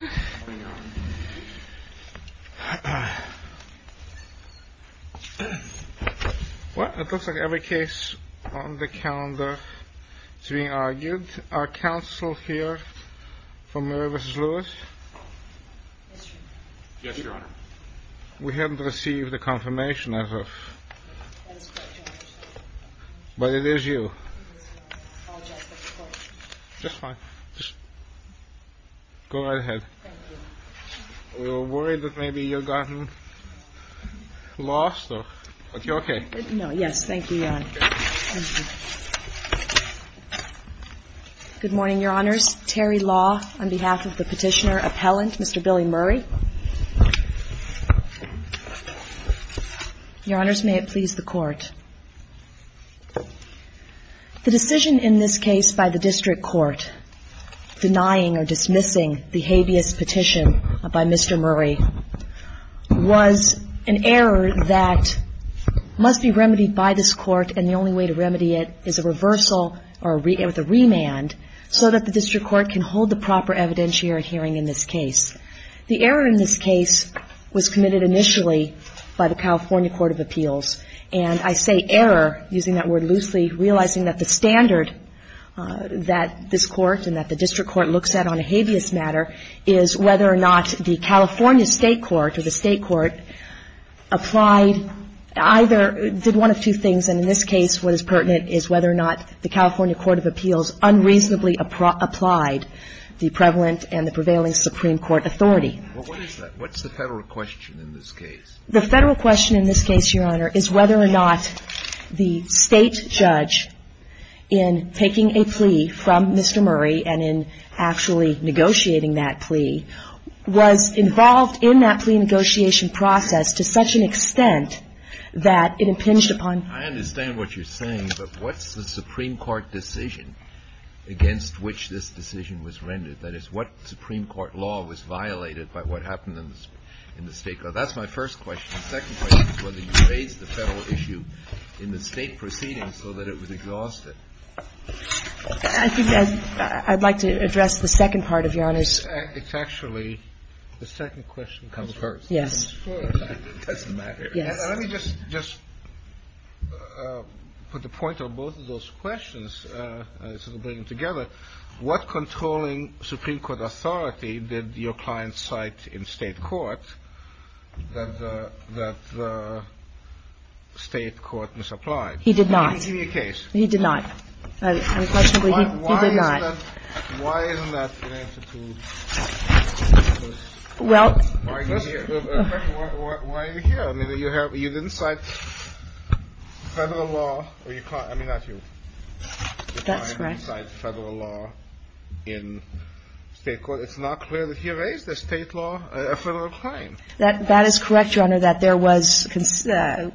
What? It looks like every case on the calendar is being argued. Are counsel here for Murray v. Lewis? Yes, Your Honor. We haven't received a confirmation as of... That is correct, Your Honor. But it is you. I apologize for the delay. Just fine. Just go right ahead. Thank you. We were worried that maybe you had gotten lost, but you're okay. No, yes. Thank you, Your Honor. Good morning, Your Honors. Terry Law on behalf of the Petitioner Appellant, Mr. Billy Murray. Your Honors, may it please the Court. The decision in this case by the district court denying or dismissing the habeas petition by Mr. Murray was an error that must be remedied by this Court, and the only way to remedy it is a reversal or a remand so that the district court can hold the proper evidentiary hearing in this case. The error in this case was committed initially by the California Court of Appeals, and I say error, using that word loosely, realizing that the standard that this Court and that the district court looks at on a habeas matter is whether or not the California State Court or the State Court applied, either did one of two things, and in this case what is pertinent is whether or not the California Court of Appeals unreasonably applied the prevalent and the prevailing Supreme Court authority. Well, what is that? What's the Federal question in this case? The Federal question in this case, Your Honor, is whether or not the State judge in taking a plea from Mr. Murray and in actually negotiating that plea was involved in that plea negotiation process to such an extent that it impinged upon I understand what you're saying, but what's the Supreme Court decision against which this decision was rendered? That is, what Supreme Court law was violated by what happened in the State court? So that's my first question. The second question is whether you raised the Federal issue in the State proceeding so that it was exhausted. I think I'd like to address the second part of Your Honor's. It's actually the second question comes first. Yes. It doesn't matter. Yes. Let me just put the point on both of those questions, sort of bring them together. What controlling Supreme Court authority did your client cite in State court that the State court misapplied? He did not. Give me a case. He did not. He did not. Why isn't that in answer to the question? Well. Why are you here? I mean, you didn't cite Federal law. I mean, not you. That's correct. I didn't cite Federal law in State court. It's not clear that he raised a State law, a Federal crime. That is correct, Your Honor, that there was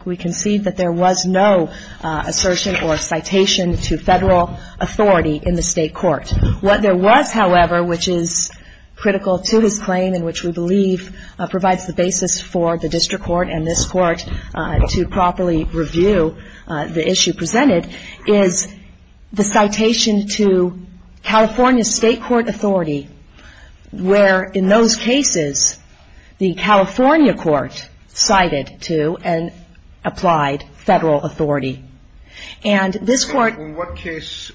we concede that there was no assertion or citation to Federal authority in the State court. What there was, however, which is critical to his claim and which we believe provides the basis for the district court and this court to properly review the issue presented is the citation to California State court authority where in those cases, the California court cited to an applied Federal authority. And this court. In what case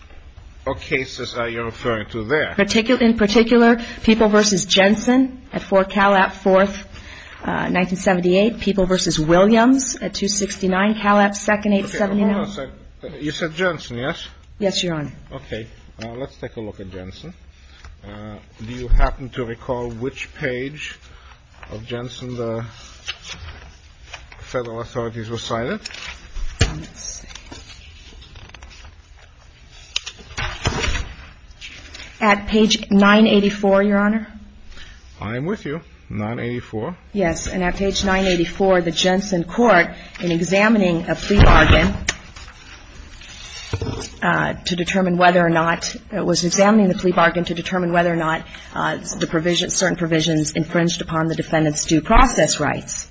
or cases are you referring to there? In particular, People v. Jensen at Fort Calab, 4th, 1978. People v. Williams at 269 Calab, 2nd, 879. I'm sorry. You said Jensen, yes? Yes, Your Honor. Okay. Let's take a look at Jensen. Do you happen to recall which page of Jensen the Federal authorities recited? At page 984, Your Honor. I'm with you. 984. Yes. And at page 984, the Jensen court in examining a plea bargain to determine whether or not it was examining the plea bargain to determine whether or not the provision certain provisions infringed upon the defendant's due process rights.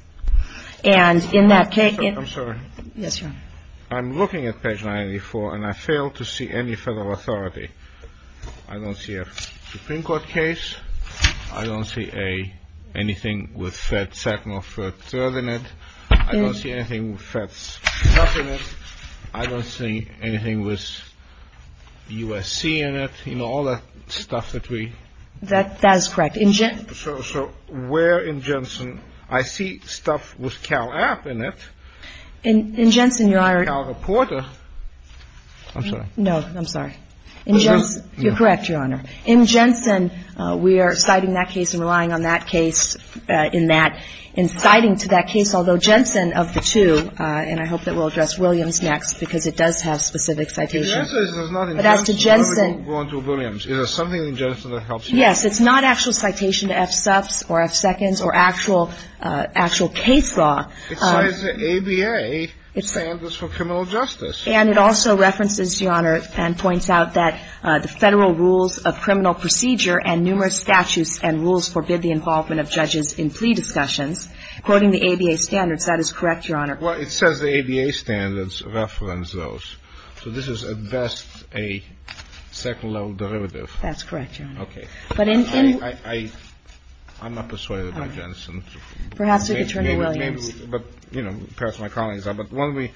And in that case. I'm sorry. Yes, Your Honor. I'm looking at page 984 and I fail to see any Federal authority. I don't see a Supreme Court case. I don't see a anything with Fed second or third in it. I don't see anything with Fed second in it. I don't see anything with USC in it. You know, all that stuff that we. That is correct. So where in Jensen? I see stuff with Calab in it. In Jensen, Your Honor. Cal reporter. I'm sorry. No, I'm sorry. In Jensen. You're correct, Your Honor. In Jensen, we are citing that case and relying on that case in that, in citing to that case, although Jensen of the two, and I hope that we'll address Williams next, because it does have specific citations. But as to Jensen. Is there something in Jensen that helps you? Yes. It's not actual citation to FSUPs or F seconds or actual, actual case law. It cites the ABA standards for criminal justice. And it also references, Your Honor, and points out that the Federal rules of criminal procedure and numerous statutes and rules forbid the involvement of judges in plea discussions, quoting the ABA standards. That is correct, Your Honor. Well, it says the ABA standards reference those. So this is at best a second level derivative. That's correct, Your Honor. Okay. But in. I'm not persuaded by Jensen. Perhaps we could turn to Williams. Perhaps my colleagues are. But why don't we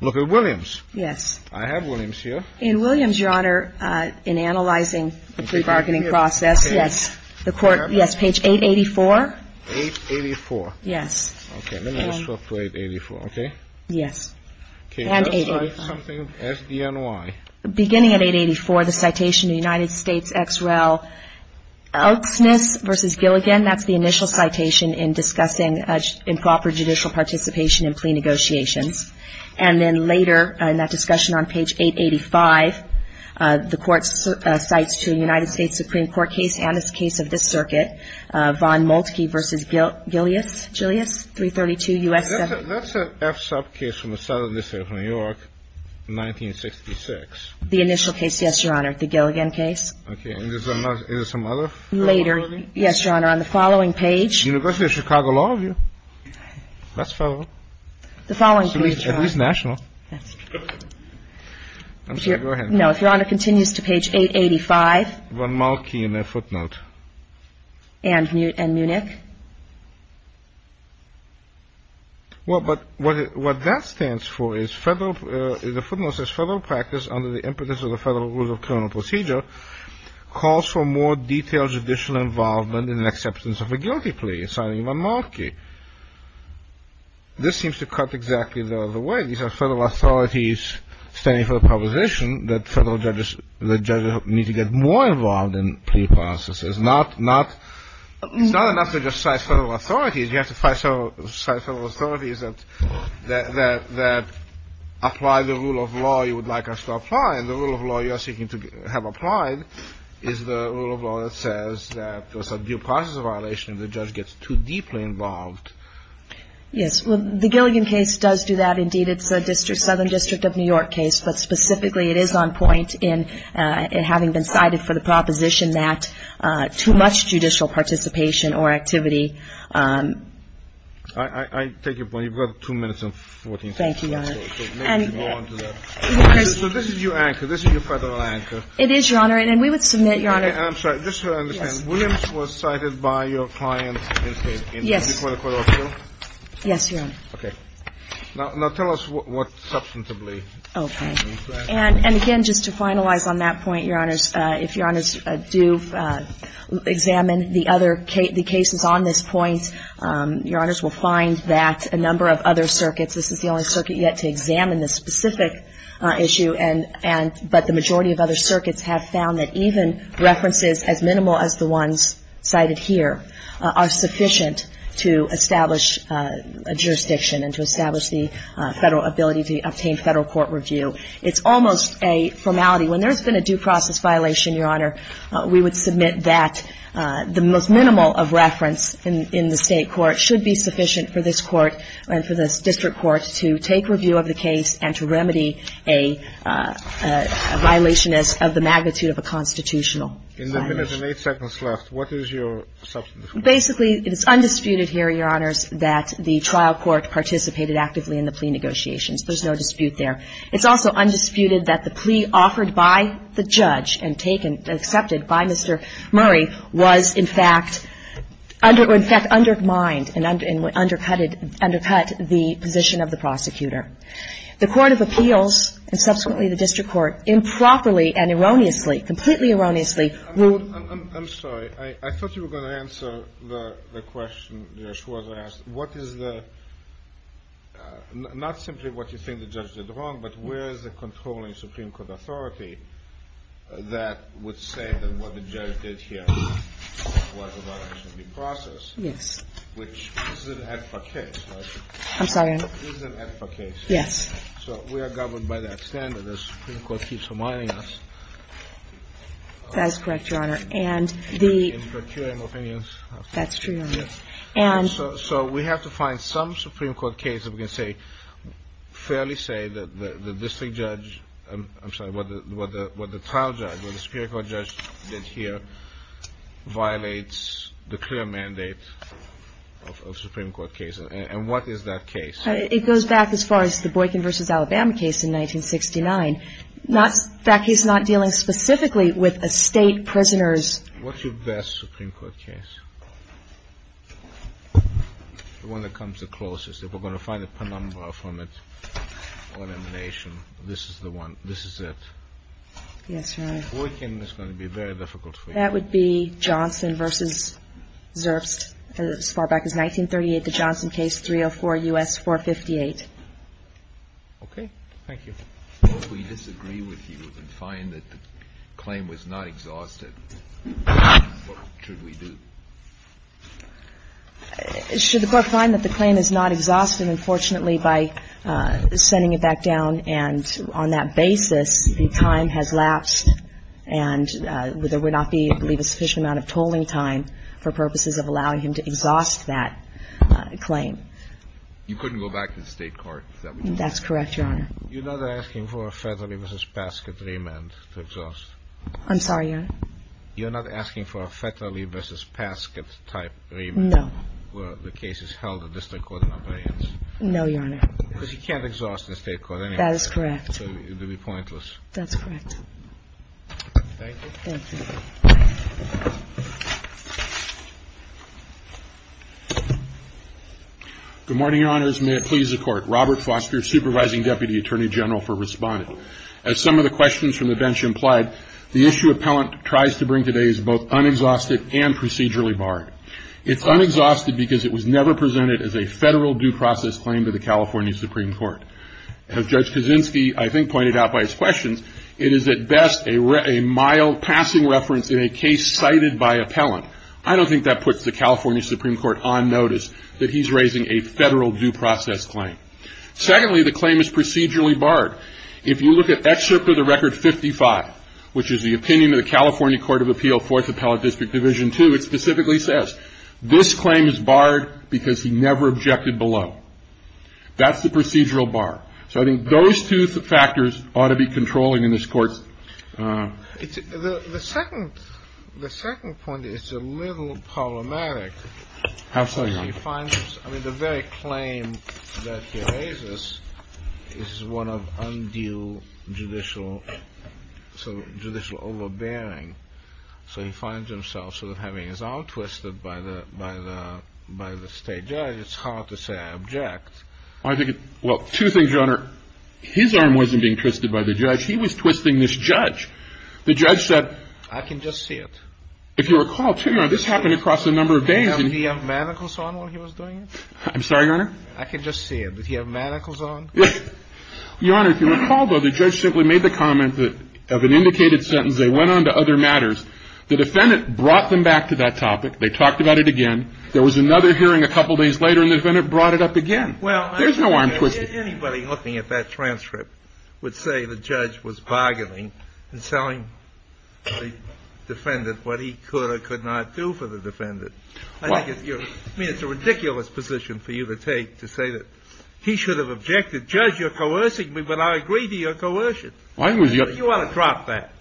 look at Williams? Yes. I have Williams here. In Williams, Your Honor, in analyzing the plea bargaining process. Yes. The court. Yes. Page 884. 884. Okay. Let me just look to 884, okay? Yes. And 884. Okay. Let's look at something, SDNY. Beginning at 884, the citation to United States ex rel. Elksness v. Gilligan. That's the initial citation in discussing improper judicial participation in plea negotiations. And then later in that discussion on page 885, the court cites to a United States Supreme Court case and this case of this circuit, Von Moltke v. Gillius, Gillius, 332 U.S. 7. That's an F-sub case from the Southern District of New York, 1966. The initial case, yes, Your Honor. The Gilligan case. Okay. And is there some other? Later. Yes, Your Honor. On the following page. University of Chicago Law Review. That's federal. The following page, Your Honor. At least national. Yes. I'm sorry. Go ahead. No. If Your Honor continues to page 885. Von Moltke in their footnote. And Munich. Well, but what that stands for is federal, the footnote says, under the impetus of the Federal Rules of Criminal Procedure calls for more detailed judicial involvement in an acceptance of a guilty plea, citing Von Moltke. This seems to cut exactly the other way. These are federal authorities standing for the proposition that federal judges need to get more involved in plea processes, not enough to just cite federal authorities. You have to cite federal authorities that apply the rule of law you would like us to apply, and the rule of law you are seeking to have applied is the rule of law that says that there's a due process violation if the judge gets too deeply involved. Yes. Well, the Gilligan case does do that. Indeed, it's the Southern District of New York case, but specifically it is on point in having been cited for the proposition that too much judicial participation or activity. I take your point. You've got 2 minutes and 14 seconds. Thank you, Your Honor. So this is your anchor. This is your federal anchor. It is, Your Honor. And we would submit, Your Honor. I'm sorry. Just so I understand. Williams was cited by your client. Yes. Before the court of appeal? Yes, Your Honor. Okay. Now tell us what substantively. Okay. And again, just to finalize on that point, Your Honors, if Your Honors do examine the other cases on this point, Your Honors will find that a number of other circuits, this is the only circuit yet to examine this specific issue, but the majority of other circuits have found that even references as minimal as the ones cited here are sufficient to establish a jurisdiction and to establish the federal ability to obtain federal court review. It's almost a formality. When there's been a due process violation, Your Honor, we would submit that the most minimal of reference in the state court should be sufficient for this court and for this district court to take review of the case and to remedy a violation of the magnitude of a constitutional violation. In the minute and 8 seconds left, what is your substantively? Basically, it is undisputed here, Your Honors, that the trial court participated actively in the plea negotiations. There's no dispute there. It's also undisputed that the plea offered by the judge and taken, accepted by Mr. Murray, was in fact undermined and undercut the position of the prosecutor. The court of appeals and subsequently the district court improperly and erroneously, completely erroneously ruled. I'm sorry. I thought you were going to answer the question that Ms. Schwartz asked. What is the – not simply what you think the judge did wrong, but where is the controlling Supreme Court authority that would say that what the judge did here was a violation of due process? Yes. Which is an AEDFA case, right? I'm sorry. This is an AEDFA case. Yes. So we are governed by that standard as the Supreme Court keeps reminding us. That is correct, Your Honor. And the – In procuring opinions. That's true, Your Honor. So we have to find some Supreme Court case that we can say – fairly say that the district judge – I'm sorry, what the trial judge, what the Supreme Court judge did here violates the clear mandate of Supreme Court cases. And what is that case? It goes back as far as the Boykin v. Alabama case in 1969. In fact, he's not dealing specifically with a state prisoner's – What's your best Supreme Court case? The one that comes the closest. If we're going to find a penumbra from it or an emanation, this is the one – this is it. Yes, Your Honor. Boykin is going to be very difficult for you. That would be Johnson v. Zerbst as far back as 1938, the Johnson case, 304 U.S. 458. Okay. Thank you. If we disagree with you and find that the claim was not exhausted, what should we do? Should the Court find that the claim is not exhausted, unfortunately, by sending it back down? And on that basis, the time has lapsed. And there would not be, I believe, a sufficient amount of tolling time for purposes of allowing him to exhaust that claim. You couldn't go back to the State court, is that what you're saying? That's correct, Your Honor. You're not asking for a federally v. Paskett remand to exhaust? I'm sorry, Your Honor? You're not asking for a federally v. Paskett-type remand? No. Where the case is held at the District Court of Appearance? No, Your Honor. Because you can't exhaust the State court anyway. That is correct. It would be pointless. That's correct. Thank you. Thank you. Good morning, Your Honors. May it please the Court. Robert Foster, Supervising Deputy Attorney General for Respondent. As some of the questions from the bench implied, the issue appellant tries to bring today is both unexhausted and procedurally barred. It's unexhausted because it was never presented as a Federal due process claim to the California Supreme Court. As Judge Kaczynski, I think, pointed out by his questions, it is at best a mild passing reference in a case cited by appellant. I don't think that puts the California Supreme Court on notice that he's raising a Federal due process claim. Secondly, the claim is procedurally barred. If you look at Excerpt of the Record 55, which is the opinion of the California Court of Appeal, Fourth Appellate District Division 2, it specifically says this claim is barred because he never objected below. That's the procedural bar. So I think those two factors ought to be controlling in this Court. The second point is a little problematic. How so, Your Honor? I mean, the very claim that he raises is one of undue judicial overbearing. So he finds himself sort of having his arm twisted by the State judge. It's hard to say I object. Well, two things, Your Honor. His arm wasn't being twisted by the judge. He was twisting this judge. The judge said… I can just see it. If you recall, too, Your Honor, this happened across a number of days. Did he have manacles on while he was doing it? I'm sorry, Your Honor? I can just see it. Did he have manacles on? Your Honor, if you recall, though, the judge simply made the comment that of an indicated sentence, because they went on to other matters. The defendant brought them back to that topic. They talked about it again. There was another hearing a couple days later, and the defendant brought it up again. There's no arm twisted. Anybody looking at that transcript would say the judge was bargaining and selling the defendant what he could or could not do for the defendant. I mean, it's a ridiculous position for you to take to say that he should have objected. Judge, you're coercing me, but I agree to your coercion. You ought to drop that.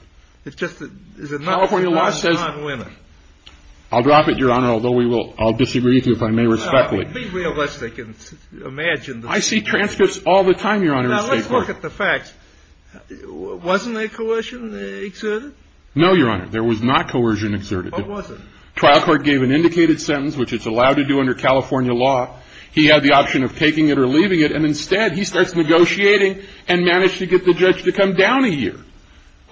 It's just that California law says non-women. I'll drop it, Your Honor, although I'll disagree with you if I may respectfully. Be realistic and imagine. I see transcripts all the time, Your Honor. Now, let's look at the facts. Wasn't there coercion exerted? No, Your Honor. There was not coercion exerted. What was it? Trial court gave an indicated sentence, which it's allowed to do under California law. He had the option of taking it or leaving it, and instead he starts negotiating and managed to get the judge to come down a year.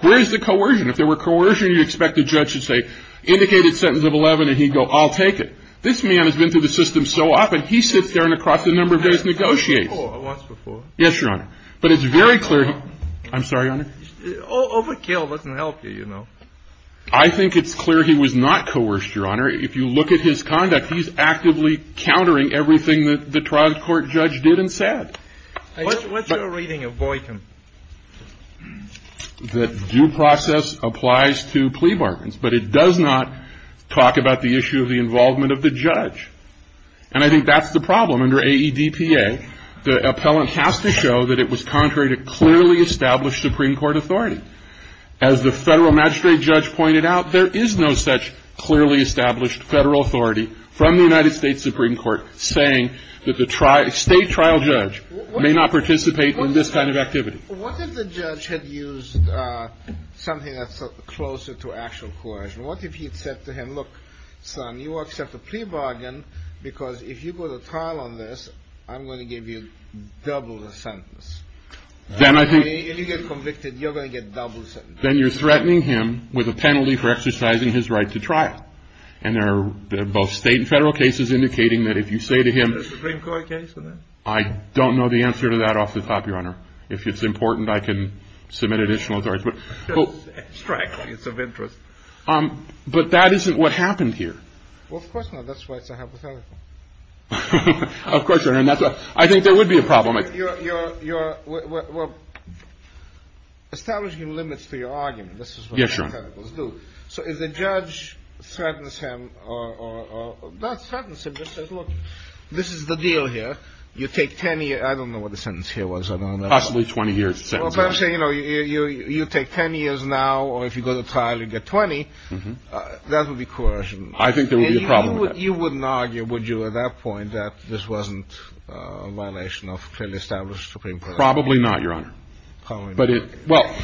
Where is the coercion? If there were coercion, you'd expect the judge to say, indicated sentence of 11, and he'd go, I'll take it. This man has been through the system so often, he sits there and across a number of days negotiates. Once before. Yes, Your Honor. But it's very clear. I'm sorry, Your Honor. Overkill doesn't help you, you know. I think it's clear he was not coerced, Your Honor. If you look at his conduct, he's actively countering everything that the trial court judge did and said. What's your reading of Boykin? The due process applies to plea bargains, but it does not talk about the issue of the involvement of the judge. And I think that's the problem. Under AEDPA, the appellant has to show that it was contrary to clearly established Supreme Court authority. As the federal magistrate judge pointed out, there is no such clearly established federal authority from the United States Supreme Court saying that the state trial judge may not participate in this kind of activity. What if the judge had used something that's closer to actual coercion? What if he had said to him, look, son, you accept a plea bargain because if you go to trial on this, I'm going to give you double the sentence. If you get convicted, you're going to get double the sentence. Then you're threatening him with a penalty for exercising his right to trial. And there are both state and federal cases indicating that if you say to him, I don't know the answer to that off the top, Your Honor. If it's important, I can submit additional authority. But that isn't what happened here. Well, of course not. That's why it's a hypothetical. Of course, Your Honor. I think there would be a problem. You're establishing limits to your argument. Yes, Your Honor. So if the judge threatens him or not threatens him, just says, look, this is the deal here. You take 10 years. I don't know what the sentence here was. Possibly 20 years. You take 10 years now or if you go to trial, you get 20. That would be coercion. I think there would be a problem with that. You wouldn't argue, would you, at that point that this wasn't a violation of clearly established Supreme Court authority? Probably not, Your Honor. Probably not. Well,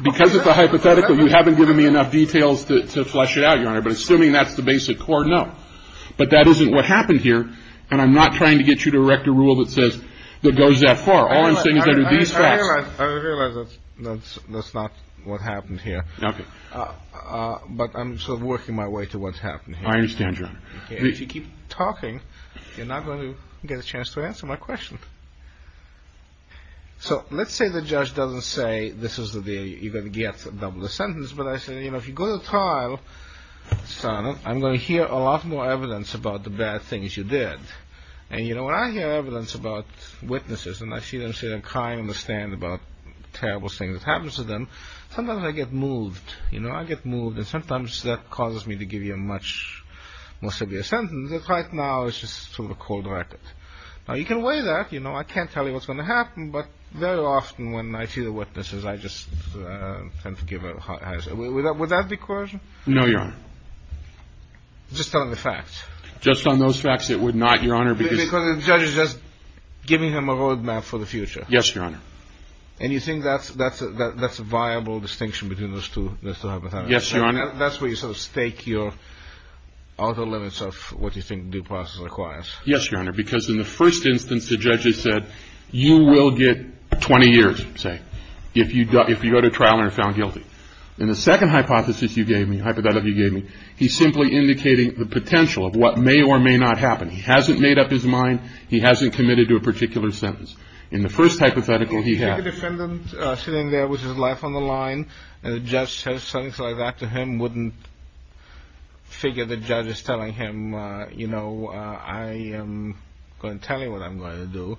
because it's a hypothetical, you haven't given me enough details to flesh it out, Your Honor. But assuming that's the basic court, no. But that isn't what happened here. And I'm not trying to get you to erect a rule that says it goes that far. All I'm saying is I do these facts. I realize that's not what happened here. Okay. But I'm sort of working my way to what's happened here. I understand, Your Honor. If you keep talking, you're not going to get a chance to answer my question. So, let's say the judge doesn't say this is the deal. You're going to get double the sentence. But I say, you know, if you go to trial, Your Honor, I'm going to hear a lot more evidence about the bad things you did. And, you know, when I hear evidence about witnesses, and I see them sit there crying on the stand about terrible things that happened to them, sometimes I get moved. You know, I get moved, and sometimes that causes me to give you a much more severe sentence. But right now, it's just sort of a cold racket. Now, you can weigh that. You know, I can't tell you what's going to happen. But very often when I see the witnesses, I just tend to give a higher sentence. Would that be coercion? No, Your Honor. Just telling the facts? Just on those facts, it would not, Your Honor. Because the judge is just giving him a roadmap for the future? Yes, Your Honor. And you think that's a viable distinction between those two hypotheticals? Yes, Your Honor. That's where you sort of stake your outer limits of what you think due process requires? Yes, Your Honor. Because in the first instance, the judge has said, you will get 20 years, say, if you go to trial and are found guilty. In the second hypothesis you gave me, hypothetical you gave me, he's simply indicating the potential of what may or may not happen. He hasn't made up his mind. He hasn't committed to a particular sentence. In the first hypothetical, he has. If you have a defendant sitting there with his life on the line, and the judge says something like that to him, wouldn't figure the judge is telling him, you know, I am going to tell you what I'm going to do,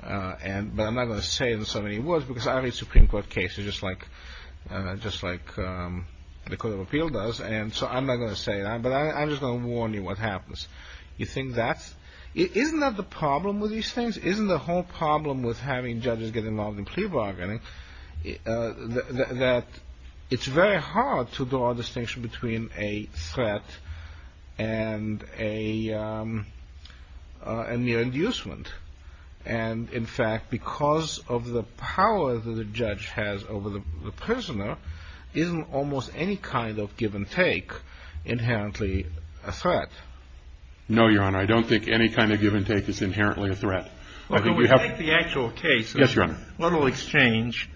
but I'm not going to say it in so many words because I read Supreme Court cases just like the Court of Appeal does, and so I'm not going to say that, but I'm just going to warn you what happens. You think that's? Isn't that the problem with these things? Isn't the whole problem with having judges get involved in plea bargaining that it's very hard to draw a distinction between a threat and a mere inducement? And, in fact, because of the power that a judge has over the prisoner, isn't almost any kind of give and take inherently a threat? No, Your Honor. I don't think any kind of give and take is inherently a threat. Well, can we take the actual case? Yes, Your Honor. A little exchange.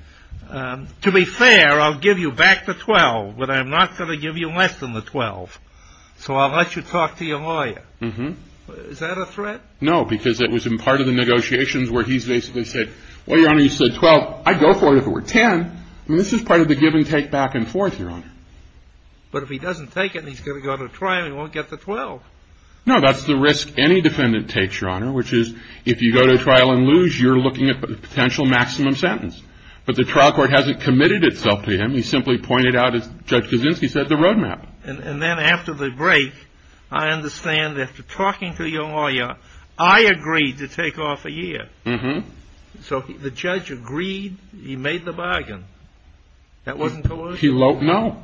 To be fair, I'll give you back the 12, but I'm not going to give you less than the 12, so I'll let you talk to your lawyer. Is that a threat? No, because it was in part of the negotiations where he's basically said, well, Your Honor, you said 12. I'd go for it if it were 10, and this is part of the give and take back and forth, Your Honor. But if he doesn't take it and he's going to go to trial, he won't get the 12. No, that's the risk any defendant takes, Your Honor, which is if you go to trial and lose, you're looking at a potential maximum sentence. But the trial court hasn't committed itself to him. He simply pointed out, as Judge Kaczynski said, the roadmap. And then after the break, I understand that after talking to your lawyer, I agreed to take off a year. Mm-hmm. So the judge agreed, he made the bargain. That wasn't collusion? No.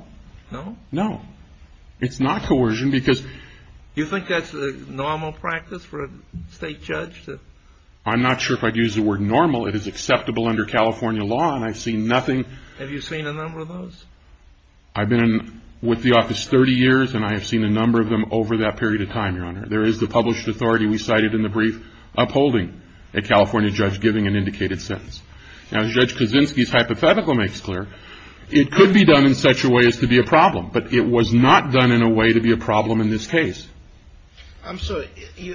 No? No. It's not coercion because – Do you think that's a normal practice for a state judge? I'm not sure if I'd use the word normal. It is acceptable under California law, and I've seen nothing – Have you seen a number of those? I've been with the office 30 years, and I have seen a number of them over that period of time, Your Honor. There is the published authority we cited in the brief upholding a California judge giving an indicated sentence. Now, as Judge Kaczynski's hypothetical makes clear, it could be done in such a way as to be a problem, but it was not done in a way to be a problem in this case. I'm sorry.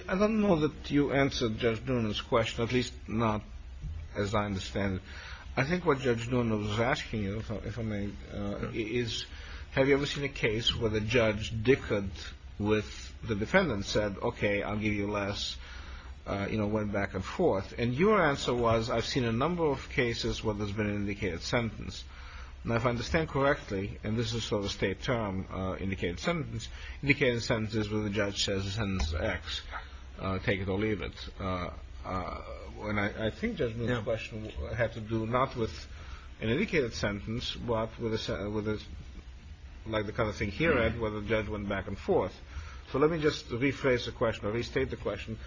I don't know that you answered Judge Noonan's question, at least not as I understand it. I think what Judge Noonan was asking you, if I may, is have you ever seen a case where the judge dickered with the defendant, said, okay, I'll give you less, you know, went back and forth. And your answer was, I've seen a number of cases where there's been an indicated sentence. Now, if I understand correctly, and this is sort of a state term, indicated sentence, indicated sentence is where the judge says the sentence is X, take it or leave it. And I think Judge Noonan's question had to do not with an indicated sentence, but with a – like the kind of thing here, Ed, where the judge went back and forth. So let me just rephrase the question or restate the question.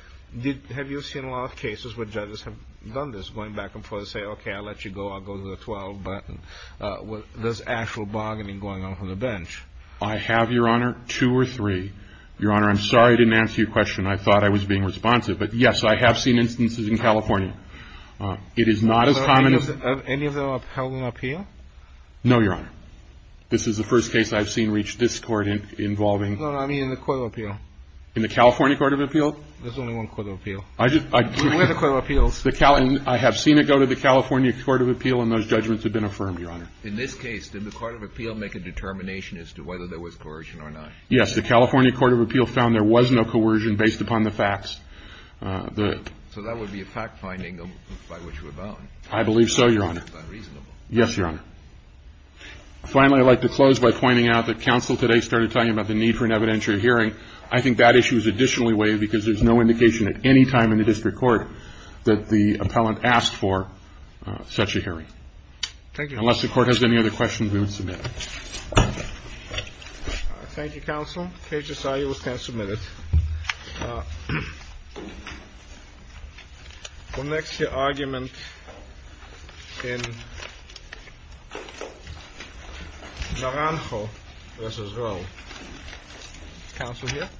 Have you seen a lot of cases where judges have done this, going back and forth, say, okay, I'll let you go, I'll go to the 12, but there's actual bargaining going on from the bench. I have, Your Honor, two or three. Your Honor, I'm sorry I didn't answer your question. I thought I was being responsive. But, yes, I have seen instances in California. It is not as common as – Have any of them held an appeal? No, Your Honor. This is the first case I've seen reach this court involving – No, no, I mean in the court of appeal. In the California court of appeal? There's only one court of appeal. Where are the court of appeals? I have seen it go to the California court of appeal, and those judgments have been affirmed, Your Honor. In this case, did the court of appeal make a determination as to whether there was coercion or not? Yes. The California court of appeal found there was no coercion based upon the facts. So that would be a fact-finding by which we're bound. I believe so, Your Honor. That's unreasonable. Yes, Your Honor. Finally, I'd like to close by pointing out that counsel today started telling you about the need for an evidentiary hearing. I think that issue is additionally waived because there's no indication at any time in the district court that the appellant asked for such a hearing. Thank you. Unless the Court has any other questions, we will submit. Thank you, counsel. In case you saw it, you can submit it. The next argument in Naranjo v. Rowe. Counsel here?